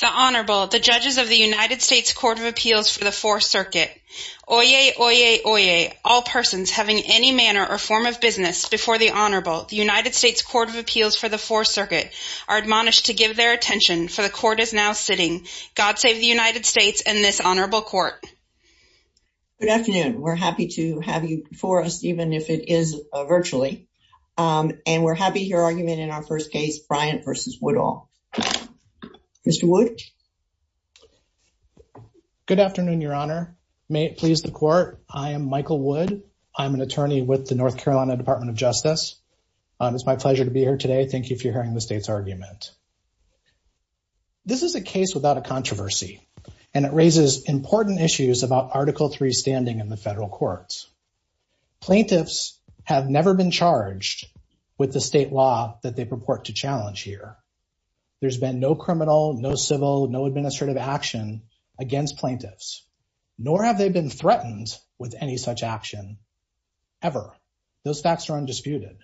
The Honorable, the judges of the United States Court of Appeals for the Fourth Circuit. Oyez, oyez, oyez, all persons having any manner or form of business before the Honorable, the United States Court of Appeals for the Fourth Circuit, are admonished to give their attention for the court is now sitting. God save the United States and this honorable court. Good afternoon. We're happy to have you before us, even if it is virtually. And we're happy to hear argument in our first case, Bryant v. Woodall. Mr. Wood? Good afternoon, Your Honor. May it please the court, I am Michael Wood. I'm an attorney with the North Carolina Department of Justice. It's my pleasure to be here today. Thank you for hearing the state's argument. This is a case without a controversy. And it raises important issues about Article Three standing in the federal courts. Plaintiffs have never been charged with the state law that they purport to challenge here. There's been no criminal, no civil, no administrative action against plaintiffs, nor have they been threatened with any such action ever. Those facts are undisputed.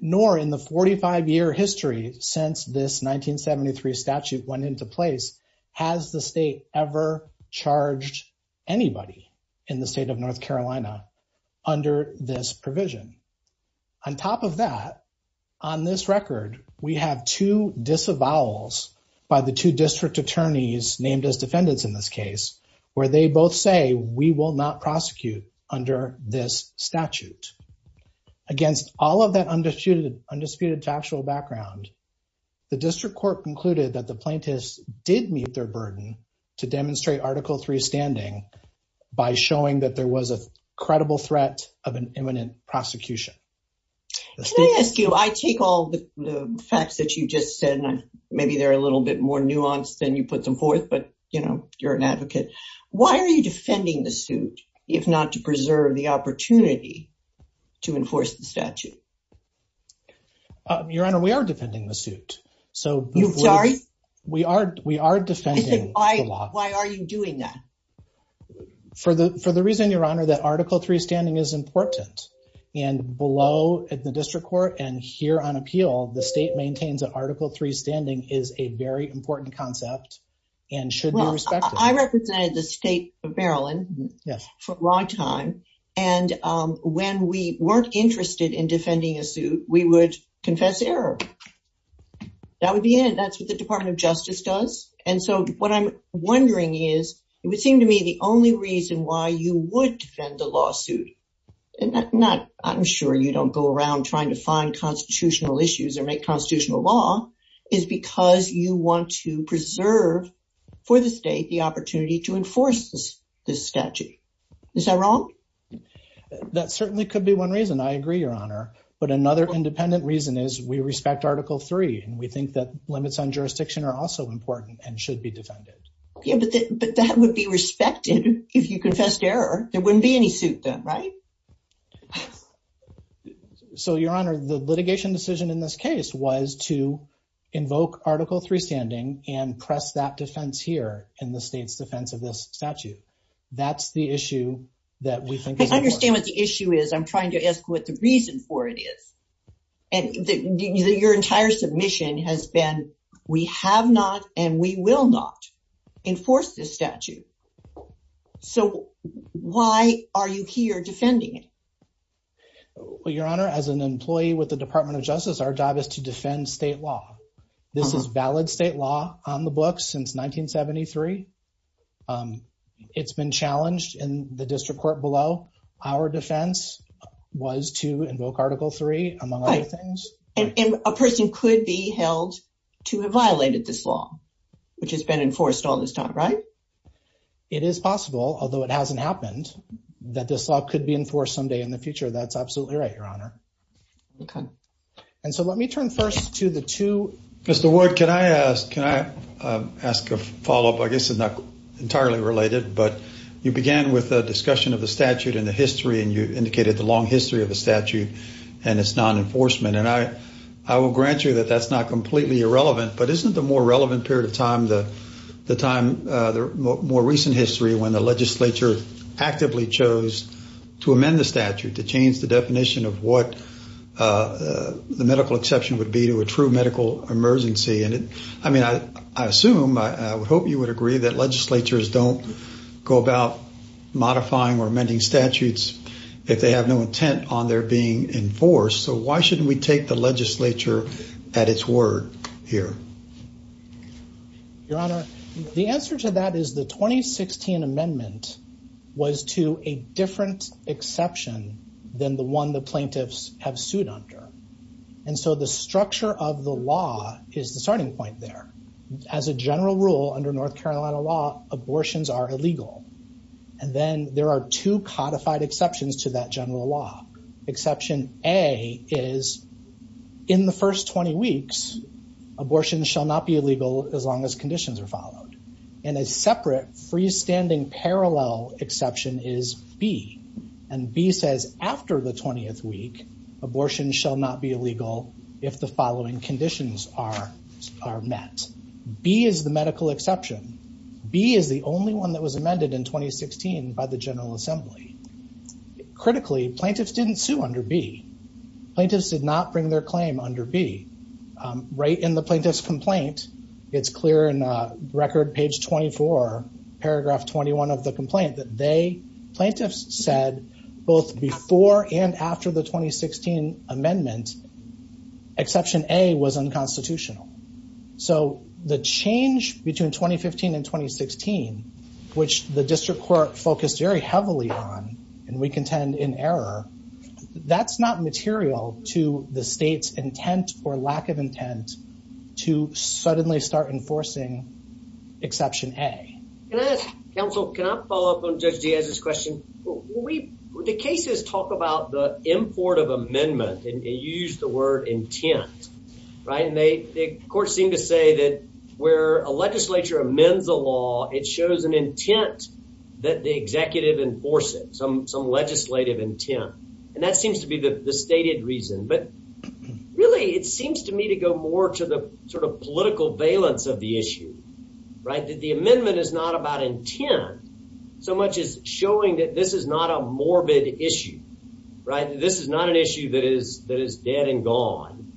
Nor in the 45 year history since this 1973 statute went into place, has the state ever charged anybody in the state of North Carolina under this provision. On top of that, on this record, we have two disavowals by the two district attorneys named as defendants in this case, where they both say we will not prosecute under this statute. Against all of that undisputed factual background, the district court concluded that the plaintiffs did meet their burden to demonstrate Article Three standing by showing that there was a prosecution. Can I ask you, I take all the facts that you just said, and maybe they're a little bit more nuanced than you put them forth, but you know, you're an advocate. Why are you defending the suit, if not to preserve the opportunity to enforce the statute? Your Honor, we are defending the suit. You're sorry? We are defending the law. Why are you doing that? For the reason, that Article Three standing is important. And below at the district court and here on appeal, the state maintains that Article Three standing is a very important concept and should be respected. I represented the state of Maryland for a long time. And when we weren't interested in defending a suit, we would confess error. That would be it. That's what the Department of Justice does. And so, what I'm wondering is, it would seem to me the only reason why you would defend the lawsuit, and I'm sure you don't go around trying to find constitutional issues or make constitutional law, is because you want to preserve for the state the opportunity to enforce this statute. Is that wrong? That certainly could be one reason. I agree, Your Honor. But another independent reason is we respect Article Three, and we think that limits on jurisdiction are also important and should be defended. Yeah, but that would be respected if you confessed error. There wouldn't be any suit then, right? So, Your Honor, the litigation decision in this case was to invoke Article Three standing and press that defense here in the state's defense of this statute. That's the issue that we think is important. I understand what the issue is. I'm trying to ask what the reason for it is. And your entire submission has been, we have not and we will not enforce this statute. So, why are you here defending it? Well, Your Honor, as an employee with the Department of Justice, our job is to defend state law. This is valid state law on the three, among other things. And a person could be held to have violated this law, which has been enforced all this time, right? It is possible, although it hasn't happened, that this law could be enforced someday in the future. That's absolutely right, Your Honor. Okay. And so let me turn first to the two... Mr. Ward, can I ask a follow-up? I guess it's not entirely related, but you began with a discussion of the statute and the history and you indicated the long history of the statute and its non-enforcement. And I will grant you that that's not completely irrelevant, but isn't the more relevant period of time the time, the more recent history when the legislature actively chose to amend the statute, to change the definition of what the medical exception would be to a true medical emergency? And I mean, I assume, I would hope you would agree that legislatures don't go about modifying or amending statutes if they have no intent on their being enforced. So why shouldn't we take the legislature at its word here? Your Honor, the answer to that is the 2016 amendment was to a different exception than the one the plaintiffs have sued under. And so the structure of the law is the starting point there. As a general rule under North Carolina law, abortions are illegal. And then there are two modified exceptions to that general law. Exception A is, in the first 20 weeks, abortions shall not be illegal as long as conditions are followed. And a separate freestanding parallel exception is B. And B says, after the 20th week, abortions shall not be illegal if the following conditions are are met. B is the medical exception. B is the only one that was amended in 2016 by the General Assembly. Critically, plaintiffs didn't sue under B. Plaintiffs did not bring their claim under B. Right in the plaintiff's complaint, it's clear in record page 24, paragraph 21 of the complaint, that they, plaintiffs said, both before and after the 2016 amendment, exception A was unconstitutional. So the change between 2015 and 2016, which the district court focused very heavily on, and we contend in error, that's not material to the state's intent or lack of intent to suddenly start enforcing exception A. Can I ask, counsel, can I follow up on Judge Diaz's question? We, the cases talk about the import of amendment and use the word intent, right? And they, of course, seem to say that where a legislature amends a law, it shows an intent that the executive enforces, some legislative intent. And that seems to be the stated reason. But really, it seems to me to go more to the sort of political valence of the issue, right? That the amendment is not about intent, so much as showing that this is not a morbid issue, right? This is not an issue that is dead and gone,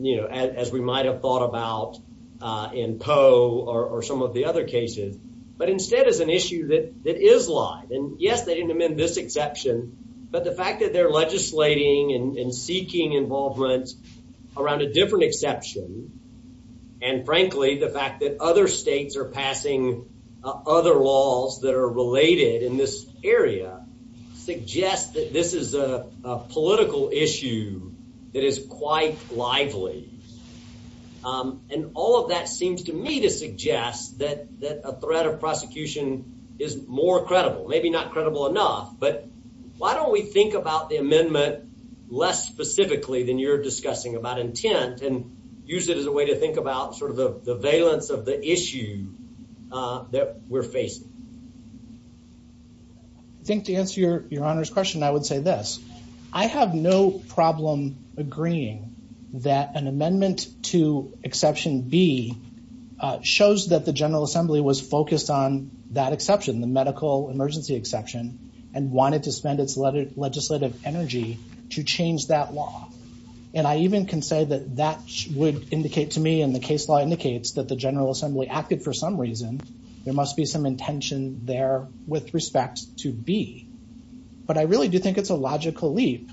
you know, as we might have thought about in Poe or some of the other cases, but instead is an issue that is live. And yes, they didn't amend this exception, but the fact that they're legislating and seeking involvement around a different exception, and frankly, the fact that other states are passing other laws that are related in this area, suggest that this is a political issue that is quite lively. And all of that seems to me to suggest that a threat of prosecution is more credible, maybe not credible enough, but why don't we think about the amendment less specifically than you're discussing about intent and use it as a way to think about sort of the valence of the issue that we're facing? I think to answer your Honor's question, I would say this. I have no problem agreeing that an amendment to exception B shows that the General Assembly passed an emergency exception and wanted to spend its legislative energy to change that law. And I even can say that that would indicate to me, and the case law indicates that the General Assembly acted for some reason, there must be some intention there with respect to B. But I really do think it's a logical leap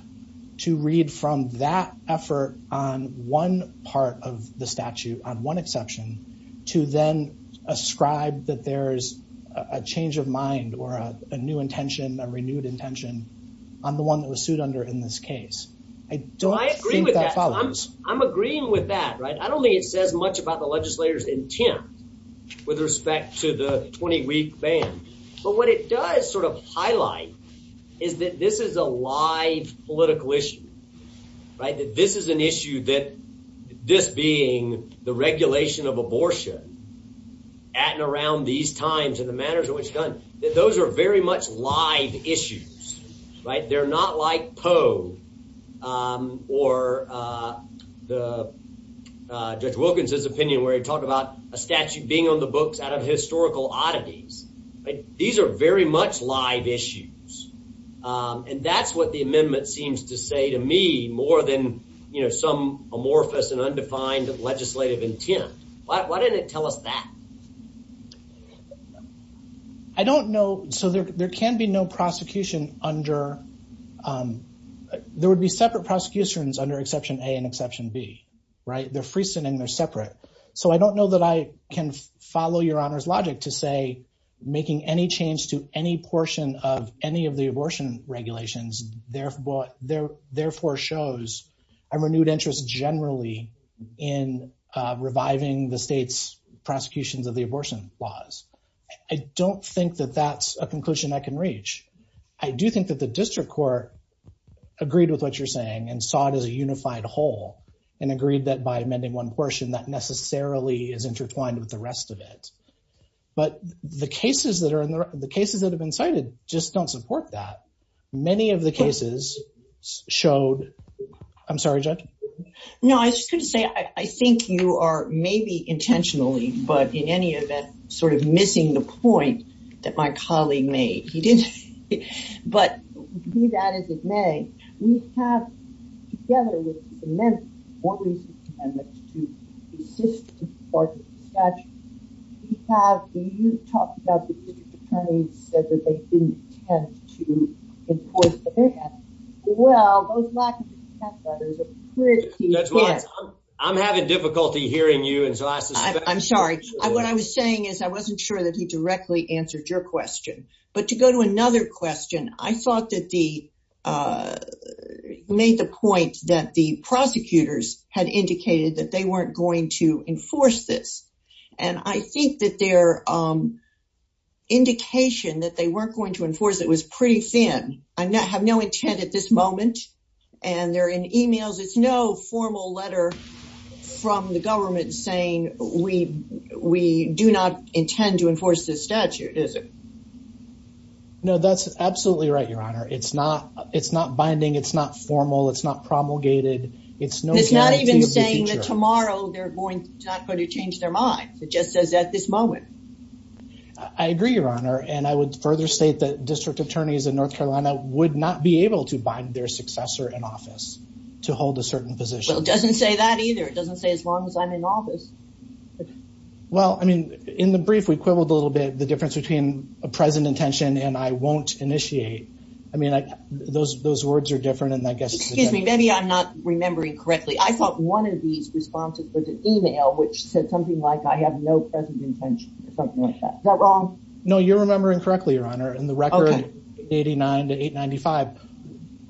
to read from that effort on one part of the statute, on one exception, to then ascribe that there's a change of mind or a new intention, a renewed intention on the one that was sued under in this case. I don't think that follows. I'm agreeing with that, right? I don't think it says much about the legislator's intent with respect to the 20-week ban, but what it does sort of highlight is that this is a live political issue, right? That this is an issue that this being the regulation of abortion at and around these times and the manners in which it's done, that those are very much live issues, right? They're not like Poe or Judge Wilkins' opinion where he talked about a statute being on the books out of historical oddities, right? These are very much live issues. And that's what the amendment seems to say to me more than some amorphous and undefined legislative intent. Why didn't it tell us that? I don't know. So there can be no prosecution under... There would be separate prosecutions under Exception A and Exception B, right? They're freestanding, they're separate. So I don't know that I can follow Your Honor's logic to say making any change to any portion of the abortion regulations therefore shows a renewed interest generally in reviving the state's prosecutions of the abortion laws. I don't think that that's a conclusion I can reach. I do think that the district court agreed with what you're saying and saw it as a unified whole and agreed that by amending one portion, that necessarily is intertwined with the rest of it. But the cases that have been cited just don't support that. Many of the cases showed... I'm sorry, Judge? No, I was just going to say, I think you are maybe intentionally, but in any event, sort of missing the point that my colleague made. But be that as it may, we have together amended more recent amendments to persistent parts of the statute. You talked about the district attorney said that they didn't intend to enforce the ban. Well, those lack of intent letters are pretty... I'm having difficulty hearing you, and so I suspect... I'm sorry. What I was saying is I wasn't sure that he directly answered your question. But to go to another question, I thought that he made the point that the prosecutors had indicated that they weren't going to enforce this. I think that their indication that they weren't going to enforce it was pretty thin. I have no intent at this moment, and they're in emails. It's no formal letter from the government saying, we do not intend to enforce this statute, is it? No, that's absolutely right, Your Honor. It's not binding. It's not formal. It's not promulgated. It's not even saying that tomorrow they're not going to change their mind. It just says at this moment. I agree, Your Honor. And I would further state that district attorneys in North Carolina would not be able to bind their successor in office to hold a certain position. Well, it doesn't say that either. It doesn't say as long as I'm in office. Okay. Well, I mean, in the brief, we quibbled a little bit, the difference between a present intention and I won't initiate. I mean, those words are different, and I guess- Excuse me. Maybe I'm not remembering correctly. I thought one of these responses was an email which said something like, I have no present intention or something like that. Is that wrong? No, you're remembering correctly, Your Honor. In the record 89 to 895,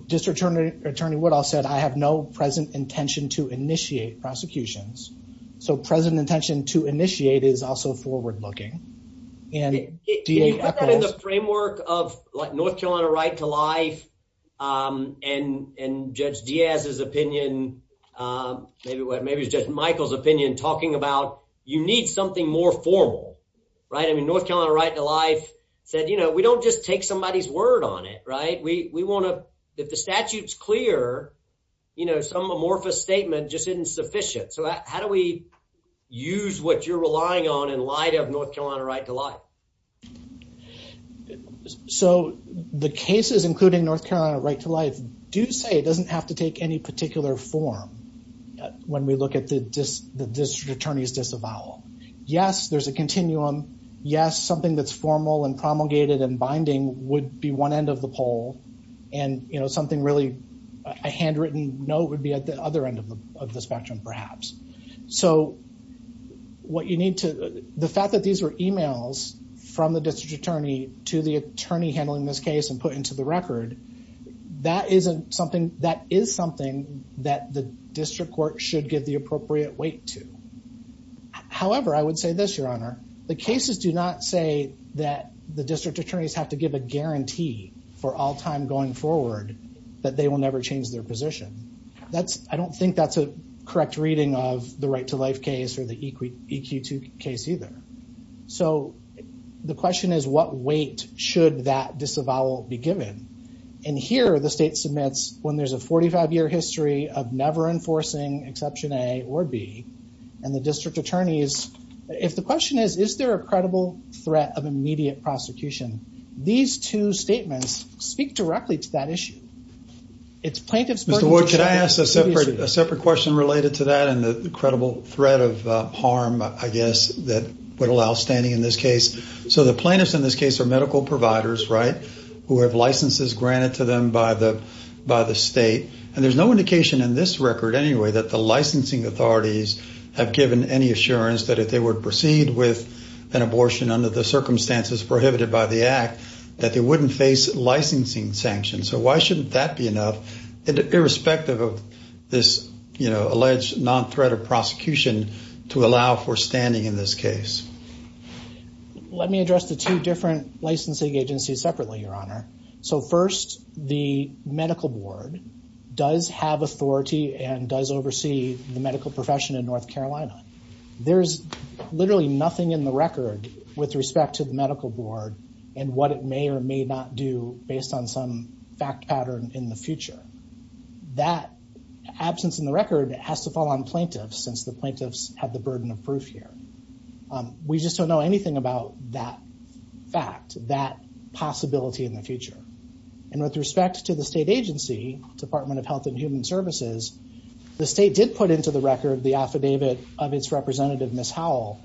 District Attorney Woodall said, I have no present intention to initiate prosecutions. So present intention to initiate is also forward-looking. Can you put that in the framework of North Carolina right to life and Judge Diaz's opinion, maybe it's Judge Michael's opinion, talking about you need something more formal, right? I mean, North Carolina right to life said, we don't just take somebody's word on it, right? If the statute is clear, some amorphous statement just isn't sufficient. So how do we use what you're relying on in light of North Carolina right to life? So the cases including North Carolina right to life do say it doesn't have to take any particular form when we look at the District Attorney's disavowal. Yes, there's a continuum. Yes, something that's formal and promulgated and a handwritten note would be at the other end of the spectrum, perhaps. So what you need to, the fact that these were emails from the District Attorney to the attorney handling this case and put into the record, that is something that the District Court should give the appropriate weight to. However, I would say this, Your Honor, the cases do not say that the District Attorneys have to give a guarantee for all time going forward, that they will never change their position. I don't think that's a correct reading of the right to life case or the EQ2 case either. So the question is, what weight should that disavowal be given? And here the state submits when there's a 45 year history of never enforcing exception A or B, and the District Attorneys, if the question is, is there a credible threat of immediate prosecution? These two statements speak directly to that issue. It's plaintiffs... Mr. Wood, can I ask a separate question related to that and the credible threat of harm, I guess, that would allow standing in this case. So the plaintiffs in this case are medical providers, right? Who have licenses granted to them by the state. And there's no indication in this record anyway, that the licensing authorities have given any assurance that if they would proceed with an abortion under the circumstances prohibited by the act, that they wouldn't face licensing sanctions. So why shouldn't that be enough? Irrespective of this, you know, alleged non-threat of prosecution to allow for standing in this case. Let me address the two different licensing agencies separately, Your Honor. So first, the medical board does have authority and does oversee the medical profession in North Carolina. There's literally nothing in the record with respect to the medical board and what it may or may not do based on some fact pattern in the future. That absence in the record has to fall on plaintiffs since the plaintiffs have the burden of proof here. We just don't know anything about that fact, that possibility in the future. And with respect to the state agency, Department of Health and Human Services, the state did put into the record the affidavit of its representative, Ms. Howell.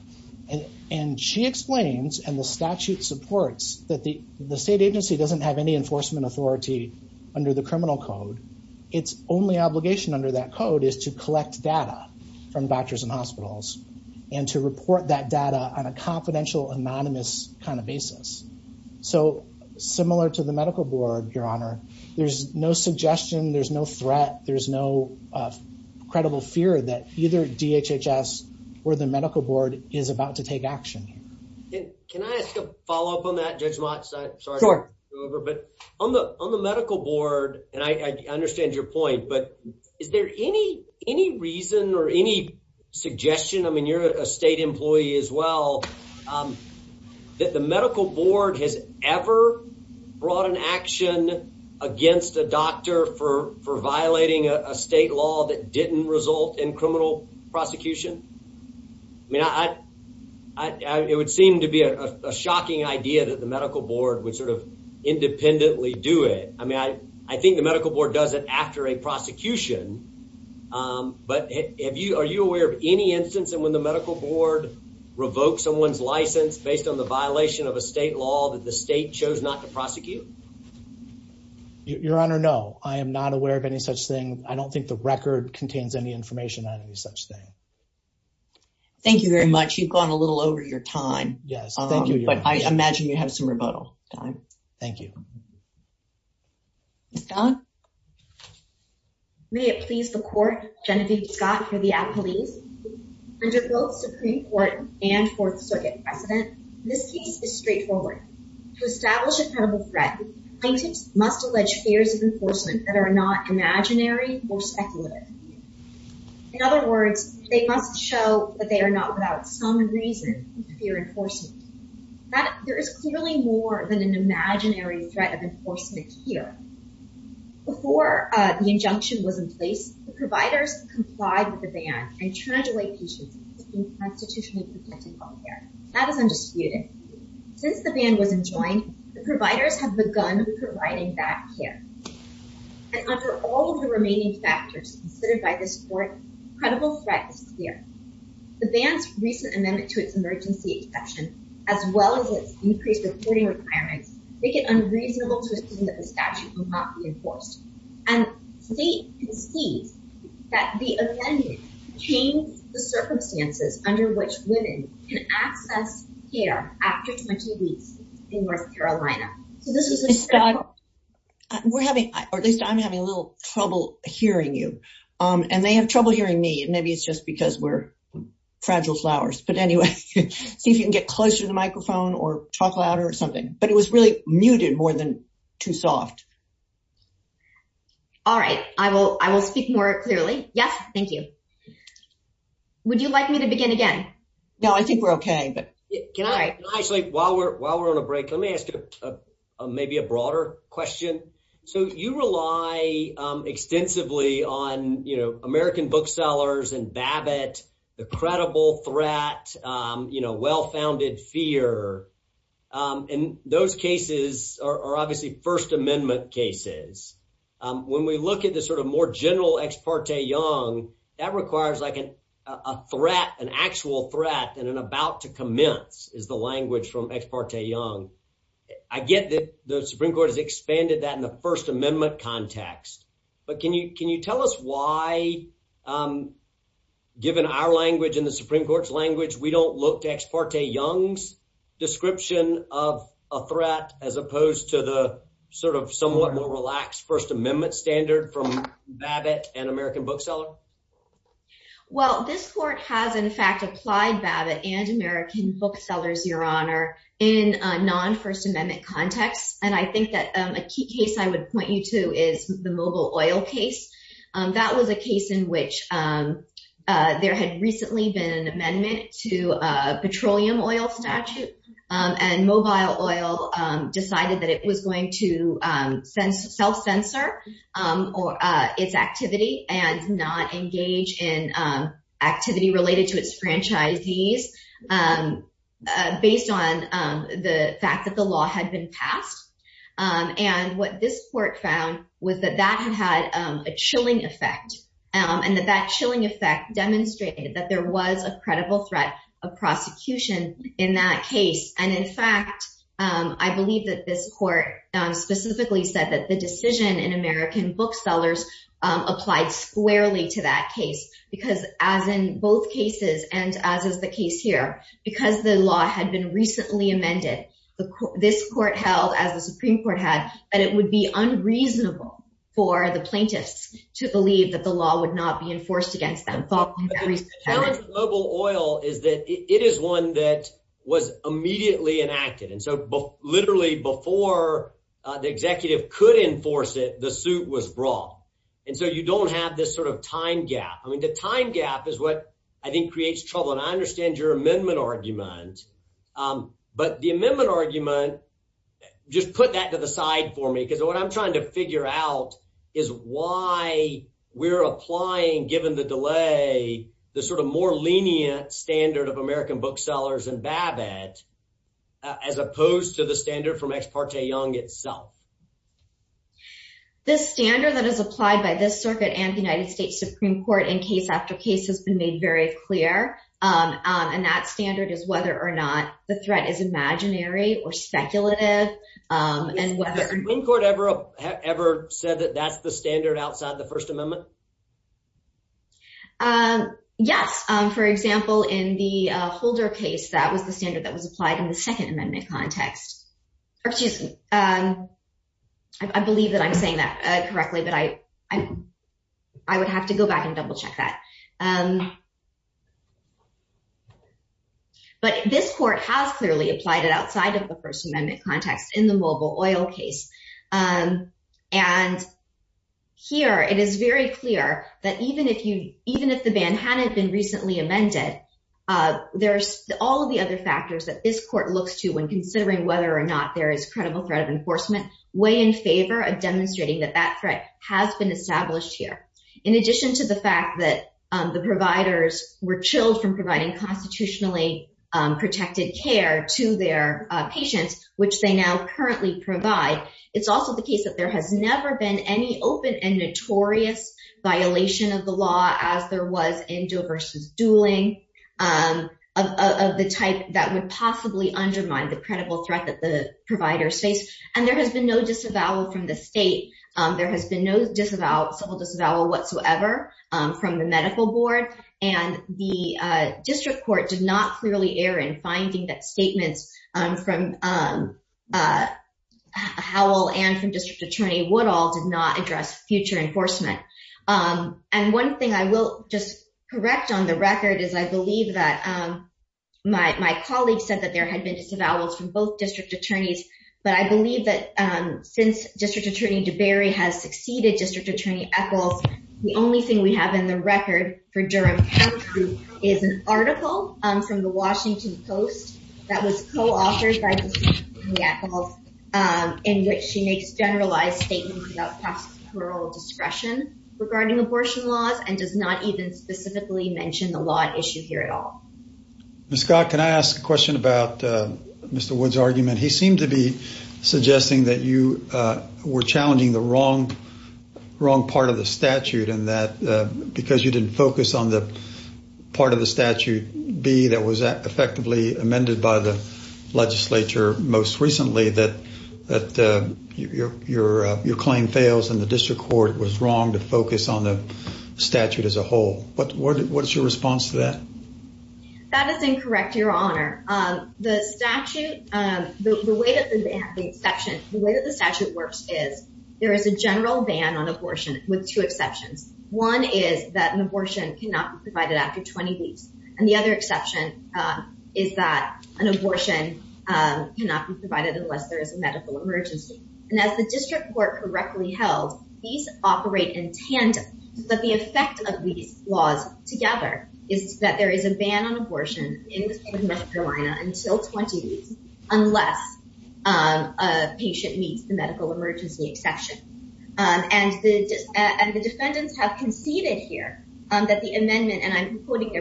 And she explains, and the statute supports, that the state agency doesn't have any enforcement authority under the criminal code. Its only obligation under that code is to collect kind of basis. So similar to the medical board, Your Honor, there's no suggestion, there's no threat, there's no credible fear that either DHHS or the medical board is about to take action. Can I ask a follow-up on that, Judge Mott? Sure. But on the medical board, and I understand your point, but is there any reason or any suggestion? I mean, you're a state employee as well. That the medical board has ever brought an action against a doctor for violating a state law that didn't result in criminal prosecution? I mean, it would seem to be a shocking idea that the medical board would sort of independently do it. I mean, I think the medical board does it after a prosecution. But are you aware of any instance when the medical board revoked someone's license based on the violation of a state law that the state chose not to prosecute? Your Honor, no. I am not aware of any such thing. I don't think the record contains any information on any such thing. Thank you very much. You've gone a little over your time. Yes, thank you, Your Honor. But I imagine you have some rebuttal time. Thank you. Don? May it please the Court, Genevieve Scott for the Appellees. Under both Supreme Court and Fourth Circuit precedent, this case is straightforward. To establish a credible threat, plaintiffs must allege fears of enforcement that are not imaginary or speculative. In other words, they must show that they are not without some reason to fear enforcement. There is clearly more than an imaginary threat of enforcement here. Before the injunction was in place, the providers complied with the ban and charged away patients with being constitutionally protected from care. That is undisputed. Since the ban was enjoined, the providers have begun providing that care. And under all of the remaining factors considered by this Court, credible threat is clear. The ban's recent amendment to its emergency exception, as well as its increased reporting requirements, make it unreasonable to assume that the statute will not be enforced. And the state concedes that the amendment changed the circumstances under which women can access care after 20 weeks in North Carolina. Or at least I'm having a little trouble hearing you. And they have trouble hearing me, and maybe it's just because we're fragile flowers. But anyway, see if you can get closer to the microphone or talk louder or something. But it was really muted more than too soft. All right. I will speak more clearly. Yes, thank you. Would you like me to begin again? No, I think we're okay. But can I actually, while we're on a break, let me ask you maybe a broader question. So you rely extensively on, you know, American booksellers and Babbitt, the credible threat, you know, well-founded fear. And those cases are obviously First Amendment cases. When we look at the sort of more general Ex parte Young, that requires like an actual threat and an about to commence is the language from Ex parte Young. I get that the Supreme Court has expanded that in the First Amendment context. But can you tell us why, given our language and the Supreme Court's language, we don't look to Ex parte Young's description of a threat as opposed to the sort of somewhat more relaxed First Amendment and American bookseller? Well, this court has, in fact, applied Babbitt and American booksellers, Your Honor, in non-First Amendment context. And I think that a key case I would point you to is the mobile oil case. That was a case in which there had recently been an amendment to a petroleum oil statute. And mobile oil decided that it was going to self-censor or its activity and not engage in activity related to its franchisees based on the fact that the law had been passed. And what this court found was that that had had a chilling effect and that that chilling effect demonstrated that there was a credible threat of prosecution in that case. And in fact, I believe that this court specifically said that the decision in American booksellers applied squarely to that case, because as in both cases and as is the case here, because the law had been recently amended, this court held, as the Supreme Court had, that it would be unreasonable for the plaintiffs to believe that the law would not be enforced against them. The challenge with mobile oil is that it is one that was immediately enacted. And so literally before the executive could enforce it, the suit was brought. And so you don't have this sort of time gap. I mean, the time gap is what I think creates trouble. And I understand your amendment argument. But the amendment argument, just put that to the side for me, because what I'm trying to figure out is why we're applying, given the delay, the sort of more lenient standard of American booksellers and Babbitt, as opposed to the standard from Ex parte Young itself. The standard that is applied by this circuit and the United States Supreme Court in case after case has been made very clear. And that standard is whether or not the threat is imaginary or speculative. And whether the Supreme Court ever, ever said that that's the standard outside the Holder case, that was the standard that was applied in the Second Amendment context. Or excuse me, I believe that I'm saying that correctly, but I would have to go back and double check that. But this court has clearly applied it outside of the First Amendment context in the mobile oil case. And here, it is very clear that even if the ban hadn't been recently amended, there's all of the other factors that this court looks to when considering whether or not there is credible threat of enforcement, way in favor of demonstrating that that threat has been established here. In addition to the fact that the providers were chilled from providing constitutionally protected care to their patients, which they now currently provide, it's also the case that there has never been any open and notorious violation of the law as there was in dueling of the type that would possibly undermine the credible threat that the providers face. And there has been no disavowal from the state. There has been no civil disavowal whatsoever from the medical board. And the district court did not clearly err in finding that statements from Howell and from District Attorney Woodall did not address future enforcement. And one thing I will just correct on the record is I believe that my colleague said that there had been disavowals from both district attorneys. But I believe that since District Attorney Deberry has succeeded District Attorney Echols, the only thing we have in the record for Durham County is an article from the Washington Post that was co-authored by District Attorney Echols in which he makes generalized statements about past parole discretion regarding abortion laws and does not even specifically mention the law at issue here at all. Ms. Scott, can I ask a question about Mr. Wood's argument? He seemed to be suggesting that you were challenging the wrong part of the statute and that because you didn't focus on the part of the statute B that was effectively amended by the your claim fails and the district court was wrong to focus on the statute as a whole. What's your response to that? That is incorrect, your honor. The statute, the way that the statute works is there is a general ban on abortion with two exceptions. One is that an abortion cannot be provided after 20 weeks. And the other exception is that an abortion cannot be provided unless there is a medical emergency. And as the district court correctly held, these operate in tandem. But the effect of these laws together is that there is a ban on abortion in the state of North Carolina until 20 weeks unless a patient meets the medical emergency exception. And the defendants have conceded here that the amendment, and I'm referring to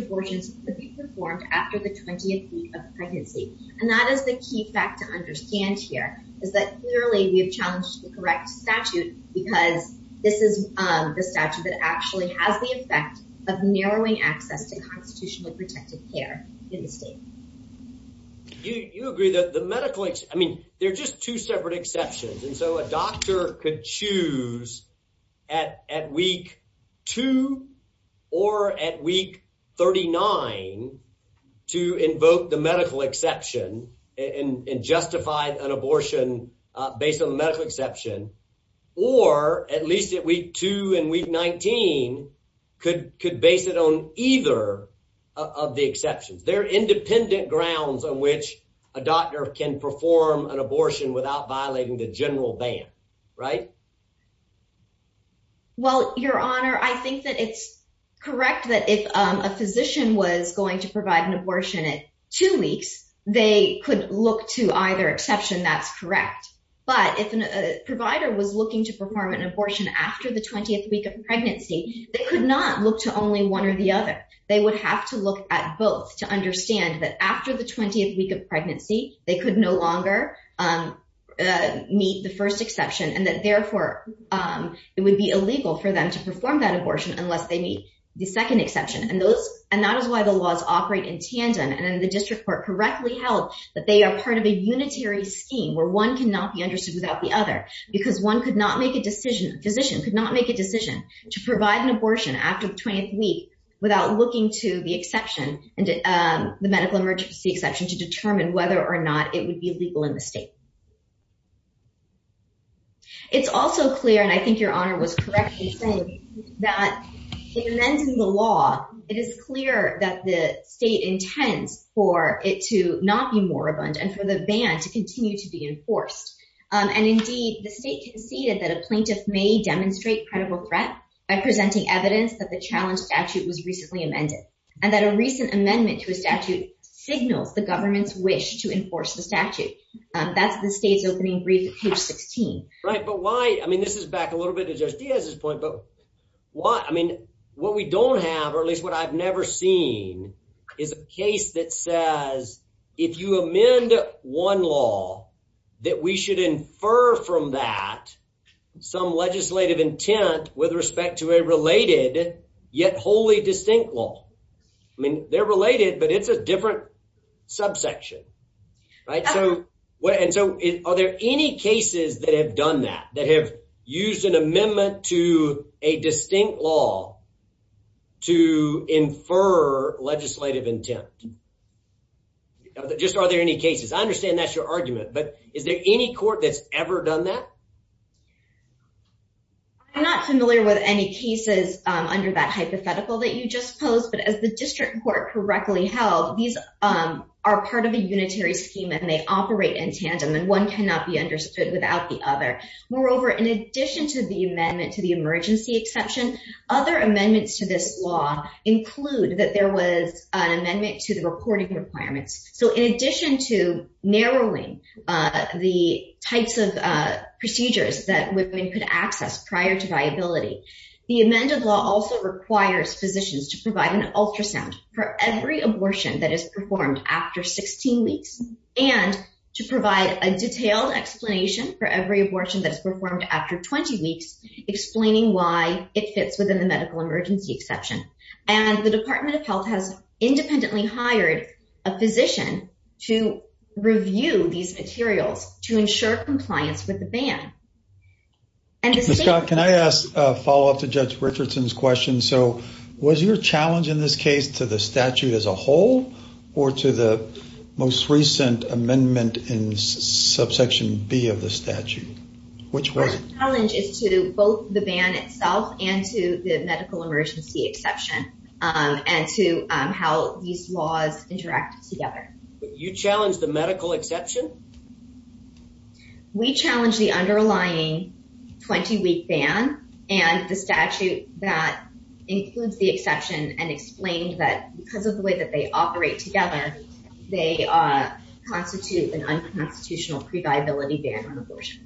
abortion, could be performed after the 20th week of pregnancy. And that is the key fact to understand here is that clearly we have challenged the correct statute because this is the statute that actually has the effect of narrowing access to constitutionally protected care in the state. You agree that the medical, I mean, they're just two separate exceptions. And at week two or at week 39 to invoke the medical exception and justify an abortion based on the medical exception, or at least at week two and week 19 could base it on either of the exceptions. There are independent grounds on which a doctor can perform an abortion without violating the right. Well, your honor, I think that it's correct that if a physician was going to provide an abortion at two weeks, they could look to either exception. That's correct. But if a provider was looking to perform an abortion after the 20th week of pregnancy, they could not look to only one or the other. They would have to look at both to understand that after the 20th week of pregnancy, they could no longer meet the first exception and that therefore it would be illegal for them to perform that abortion unless they meet the second exception. And that is why the laws operate in tandem. And then the district court correctly held that they are part of a unitary scheme where one cannot be understood without the other because one could not make a decision. A physician could not make a decision to provide an abortion after the 20th week without looking to the medical emergency exception to determine whether or not it would be illegal in the state. It's also clear, and I think your honor was correct in saying that in the law, it is clear that the state intends for it to not be moribund and for the ban to continue to be enforced. And indeed, the state conceded that a plaintiff may credible threat by presenting evidence that the challenge statute was recently amended and that a recent amendment to a statute signals the government's wish to enforce the statute. That's the state's opening brief at page 16. Right. But why? I mean, this is back a little bit to just as his point. But what I mean, what we don't have, or at least what I've never seen is a case that says if you amend one law that we should infer from that some legislative intent with respect to a related yet wholly distinct law. I mean, they're related, but it's a different subsection, right? So what? And so are there any cases that have done that that have used an attempt? Just are there any cases? I understand that's your argument, but is there any court that's ever done that? I'm not familiar with any cases under that hypothetical that you just posed, but as the district court correctly held, these are part of a unitary scheme and they operate in tandem and one cannot be understood without the other. Moreover, in addition to the amendment to the emergency exception, other amendments to this law include that there was an amendment to the reporting requirements. So in addition to narrowing the types of procedures that women could access prior to viability, the amended law also requires physicians to provide an ultrasound for every abortion that is performed after 16 weeks and to provide a detailed explanation for every abortion that fits within the medical emergency exception. And the Department of Health has independently hired a physician to review these materials to ensure compliance with the ban. Can I ask a follow-up to Judge Richardson's question? So was your challenge in this case to the statute as a whole or to the most recent amendment in subsection B of the statute? My challenge is to both the ban itself and to the medical emergency exception and to how these laws interact together. You challenged the medical exception? We challenged the underlying 20-week ban and the statute that includes the exception and explained that because of the way that they operate together, they constitute an unconstitutional pre-viability ban on abortion.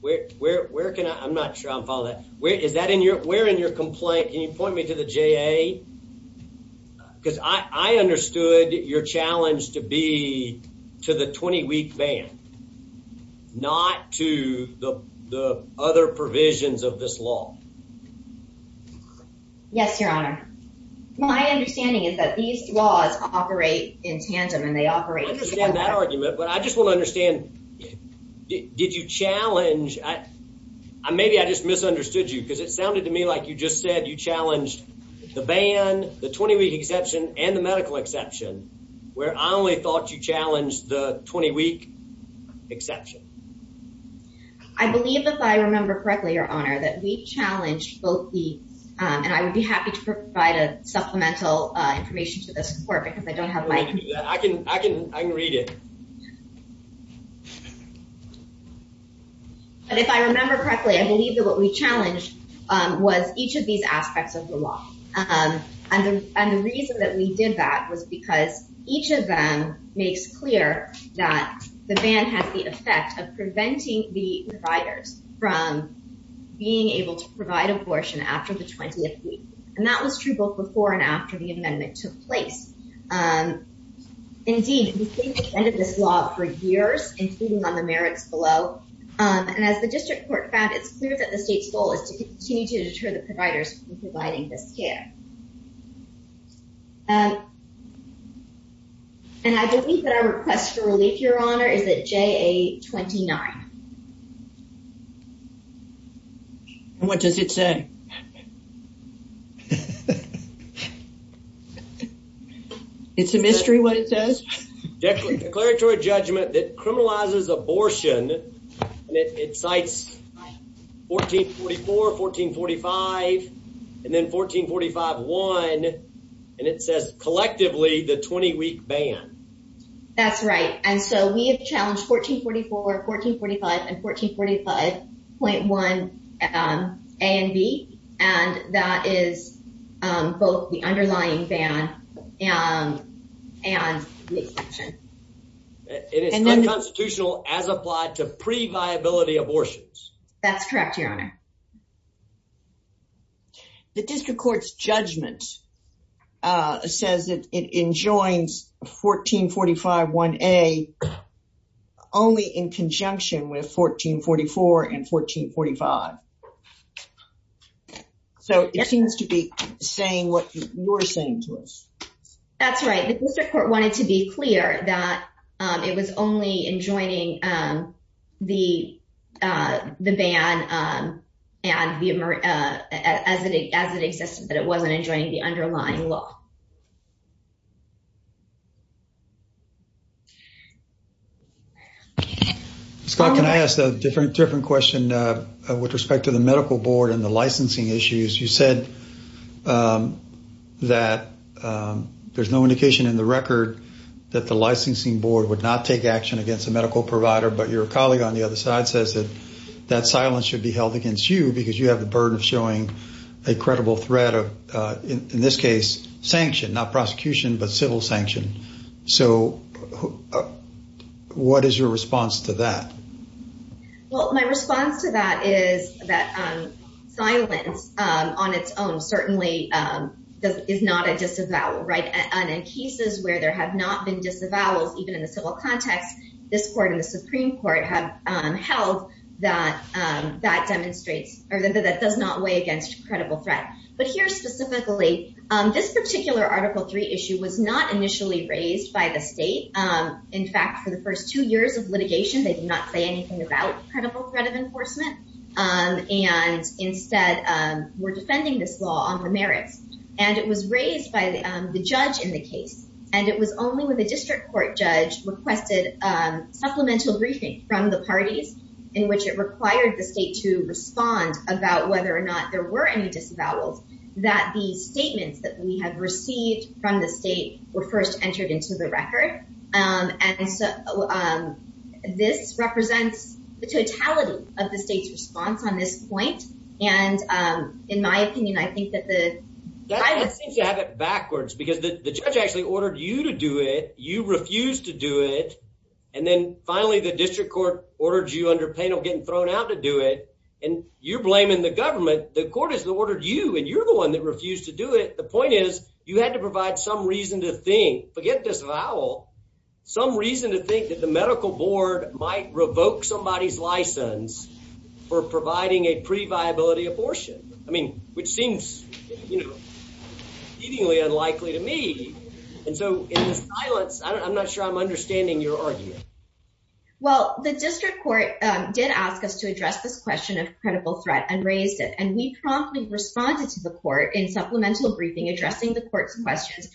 Where can I, I'm not sure I'm following that, is that in your, where in your complaint, can you point me to the JA? Because I understood your challenge to be to the 20-week ban, not to the other provisions of this law. Yes, your honor. My understanding is that these laws operate in tandem and they operate. I understand that argument, but I just want to understand, did you challenge, maybe I just misunderstood you because it sounded to me like you just said you challenged the ban, the 20-week exception, and the medical exception, where I only thought you challenged the 20-week exception. I believe if I remember correctly, your honor, that we've challenged both the, and I would be happy to provide a supplemental information to this court because I don't have my. I can, I can, I can read it. But if I remember correctly, I believe that what we challenged was each of these aspects of the law. And the reason that we did that was because each of them makes clear that the ban has the effect of preventing the providers from being able to provide abortion after the 20th week. And that was true both before and after the amendment took place. Indeed, the state defended this law for years, including on the merits below. And as the district court found, it's clear that the state's goal is to continue to deter the providers from providing this care. And I believe that our request for relief, your honor, is at JA-29. And what does it say? It's a mystery what it says. Declaratory judgment that criminalizes abortion, and it cites 1444, 1445, and then 1445-1, and it says collectively the 20-week ban. That's right. And so we have challenged 1444, 1445, and 1445-1, A and B. And that is both the underlying ban and the exception. It is unconstitutional as applied to pre-viability abortions. That's correct, your honor. The district court's judgment says that it enjoins 1445-1A only in conjunction with 1444 and 1445. So it seems to be saying what you're saying to us. That's right. The district court wanted to be clear that it was only enjoining the ban and as it existed, but it wasn't enjoining the underlying law. Scott, can I ask a different question with respect to the medical board and the licensing issues? You said that there's no indication in the record that the licensing board would not take action against a medical provider, but your colleague on the other side says that silence should be held against you because you have the burden of showing a credible threat of, in this case, sanction, not prosecution, but civil sanction. So what is your response to that? Well, my response to that is that silence on its own certainly is not a disavowal, right? And in cases where there have not been disavowals, even in the civil context, this court and the Supreme Court have held that that demonstrates or that does not weigh against credible threat. But here specifically, this particular Article III issue was not initially raised by the state. In fact, for the first two years of litigation, they did not say anything about credible threat of enforcement and instead were defending this law on the merits. And it was supplemental briefing from the parties in which it required the state to respond about whether or not there were any disavowals, that the statements that we have received from the state were first entered into the record. And so this represents the totality of the state's response on this point. And in my opinion, I think that the... That seems to have it backwards because the judge actually ordered you to do it. You refused to do it. And then finally, the district court ordered you under penal getting thrown out to do it. And you're blaming the government. The court has ordered you, and you're the one that refused to do it. The point is you had to provide some reason to think, forget disavowal, some reason to think that the medical board might revoke somebody's license for providing a pre-viability abortion. I mean, which seems seemingly unlikely to me. And so in the silence, I'm not sure I'm understanding your argument. Well, the district court did ask us to address this question of credible threat and raised it. And we promptly responded to the court in supplemental briefing, addressing the court's questions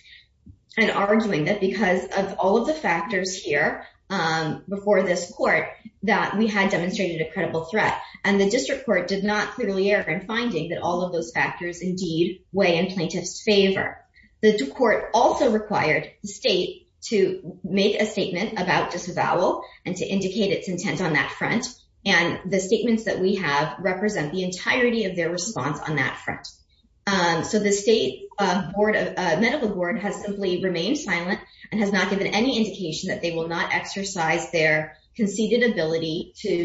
and arguing that because of all of the factors here before this court, that we had demonstrated a credible threat. And the district court did not clearly err in finding that all of those factors indeed weigh in plaintiff's favor. The court also required the state to make a statement about disavowal and to indicate its intent on that front. And the statements that we have represent the entirety of their response on that front. So the state medical board has simply remained silent and has not given any indication that they will not exercise their to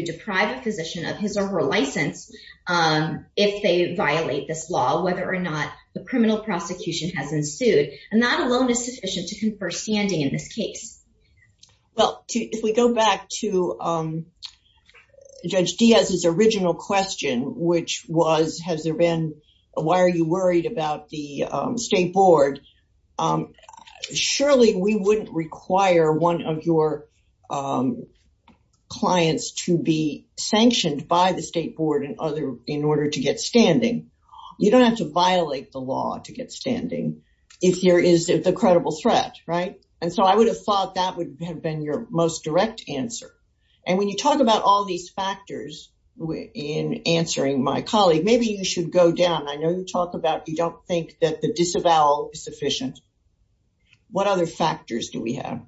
deprive a physician of his or her license if they violate this law, whether or not the criminal prosecution has ensued. And that alone is sufficient to confer standing in this case. Well, if we go back to Judge Diaz's original question, which was, has there been, why are you worried about the state board? Surely we wouldn't require one of your clients to be sanctioned by the state board in order to get standing. You don't have to violate the law to get standing if there is the credible threat, right? And so I would have thought that would have been your most direct answer. And when you talk about all these factors in answering my colleague, maybe you should go down. I know you talk about, you don't think that the disavowal is sufficient. What other factors do we have?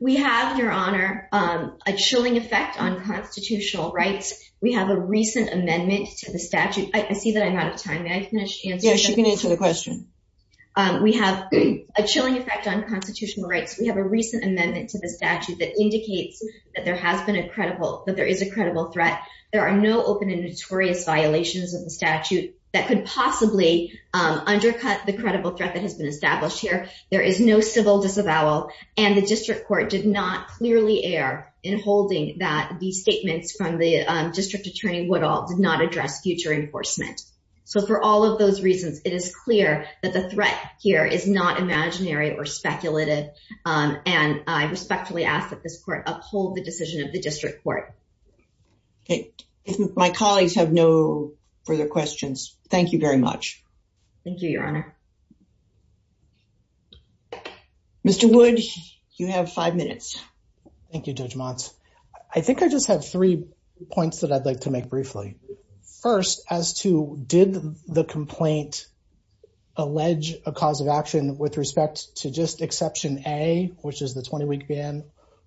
We have your honor, a chilling effect on constitutional rights. We have a recent amendment to the statute. I see that I'm out of time. We have a chilling effect on constitutional rights. We have a recent amendment to the statute that indicates that there has been a credible, that there is a credible threat. There are no notorious violations of the statute that could possibly undercut the credible threat that has been established here. There is no civil disavowal. And the district court did not clearly air in holding that the statements from the district attorney Woodall did not address future enforcement. So for all of those reasons, it is clear that the threat here is not imaginary or speculative. And I respectfully ask that this court uphold the decision of the district court. Okay. My colleagues have no further questions. Thank you very much. Thank you, your honor. Mr. Wood, you have five minutes. Thank you, Judge Motz. I think I just have three points that I'd like to make briefly. First, as to did the complaint allege a cause of action with respect to just exception A, which is the 20-week ban,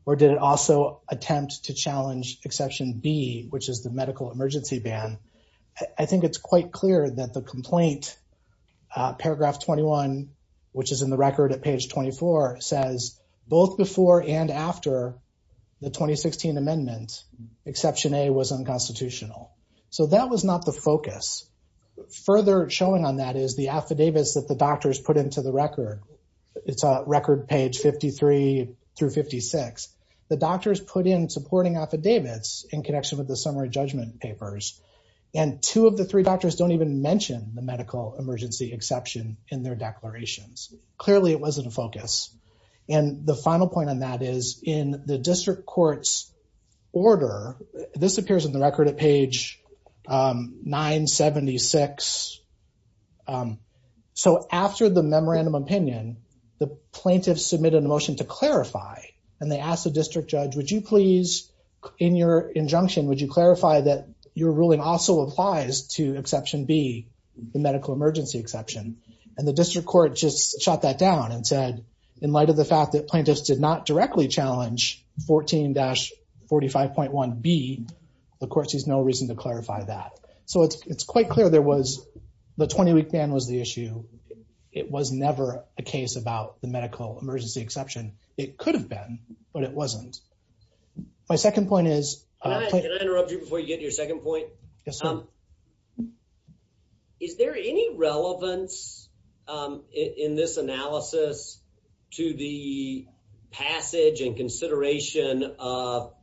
or did it also attempt to challenge exception B, which is the medical emergency ban? I think it's quite clear that the complaint, paragraph 21, which is in the record at page 24, says both before and after the 2016 amendment, exception A was unconstitutional. So that was not the focus. Further showing on that is the affidavits that the doctors put into the record. It's record page 53 through 56. The doctors put in supporting affidavits in connection with the summary judgment papers. And two of the three doctors don't even mention the medical emergency exception in their declarations. Clearly, it wasn't a focus. And the final point on that is, in the district court's order, this appears in the record at page 976. So after the memorandum opinion, the plaintiff submitted a motion to clarify. And they asked the district judge, would you please, in your injunction, would you clarify that your ruling also applies to exception B, the medical emergency exception? And the district court just shot that down and said, in light of the fact that plaintiffs did not directly challenge 14-45.1B, the court sees no reason to clarify that. So it's quite clear there was, the 20-week ban was the issue. It was never a case about the medical emergency exception. It could have been, but it wasn't. My second point is- Can I interrupt you before you get to your second point? Yes, sir. Is there any relevance in this analysis to the passage and consideration of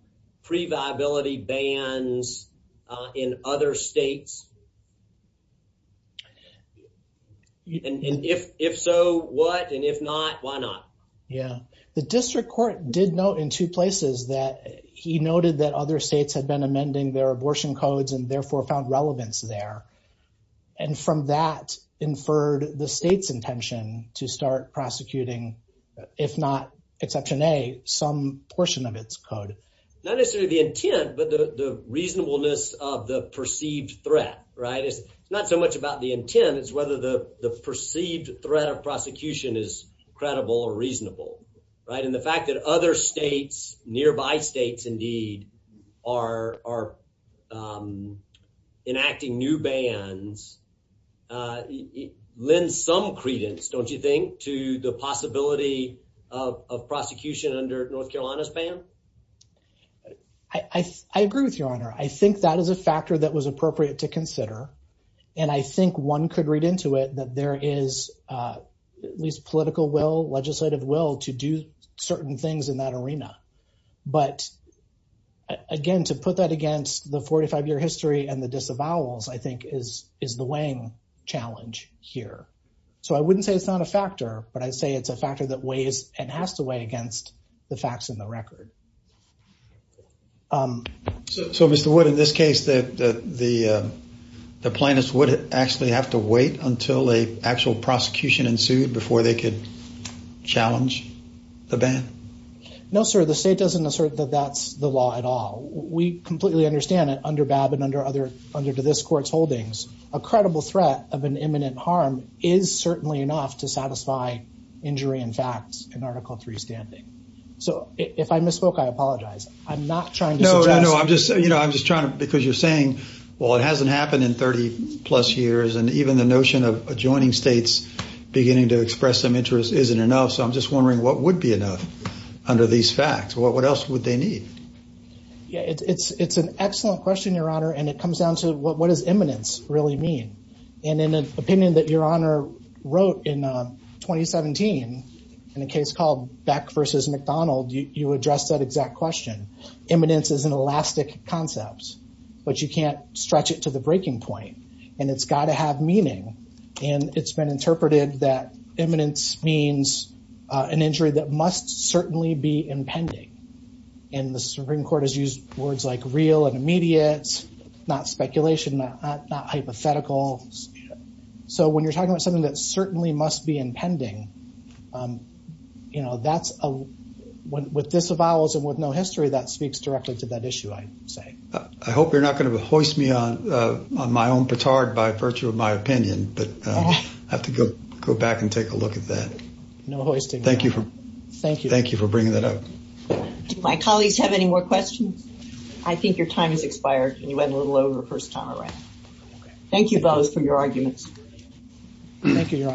reviability bans in other states? And if so, what? And if not, why not? Yeah. The district court did note in two places that he noted that other states had been amending their abortion codes and therefore found relevance there. And from that, inferred the state's intention to start prosecuting, if not exception A, some portion of its code. Not necessarily the intent, but the reasonableness of the perceived threat, right? It's not so much about the intent. It's whether the perceived threat of prosecution is credible or reasonable, right? And the fact that other states, nearby states indeed, are enacting new bans lends some credence, don't you think, to the possibility of prosecution under North Carolina's law? I agree with you, Your Honor. I think that is a factor that was appropriate to consider. And I think one could read into it that there is at least political will, legislative will, to do certain things in that arena. But again, to put that against the 45-year history and the disavowals, I think, is the weighing challenge here. So I wouldn't say it's not a factor, but I'd say it's a factor that weighs and has to weigh against the facts in the record. So, Mr. Wood, in this case, the plaintiffs would actually have to wait until an actual prosecution ensued before they could challenge the ban? No, sir. The state doesn't assert that that's the law at all. We completely understand that under Babb and under this Court's holdings, a credible threat of an imminent harm is certainly enough to satisfy injury and facts in Article III standing. So if I misspoke, I apologize. I'm not trying to suggest... No, no. I'm just trying to... Because you're saying, well, it hasn't happened in 30-plus years. And even the notion of adjoining states beginning to express some interest isn't enough. So I'm just wondering what would be enough under these facts? What else would they need? Yeah, it's an excellent question, Your Honor. And it comes down to what does imminence really mean? And in an opinion that Your Honor wrote in 2017, in a case called Beck versus McDonald, you addressed that exact question. Imminence is an elastic concept, but you can't stretch it to the breaking point. And it's got to have meaning. And it's been interpreted that imminence means an injury that must certainly be impending. And the Supreme Court has used words like real and immediate, not speculation, not hypothetical. So when you're talking about something that certainly must be impending, with this avowals and with no history, that speaks directly to that issue, I would say. I hope you're not going to hoist me on my own petard by virtue of my opinion, but I have to go back and take a look at that. Thank you for bringing that up. Do my colleagues have any more questions? I think your time has expired and you went a little over first time around. Thank you both for your arguments. Thank you, Your Honors.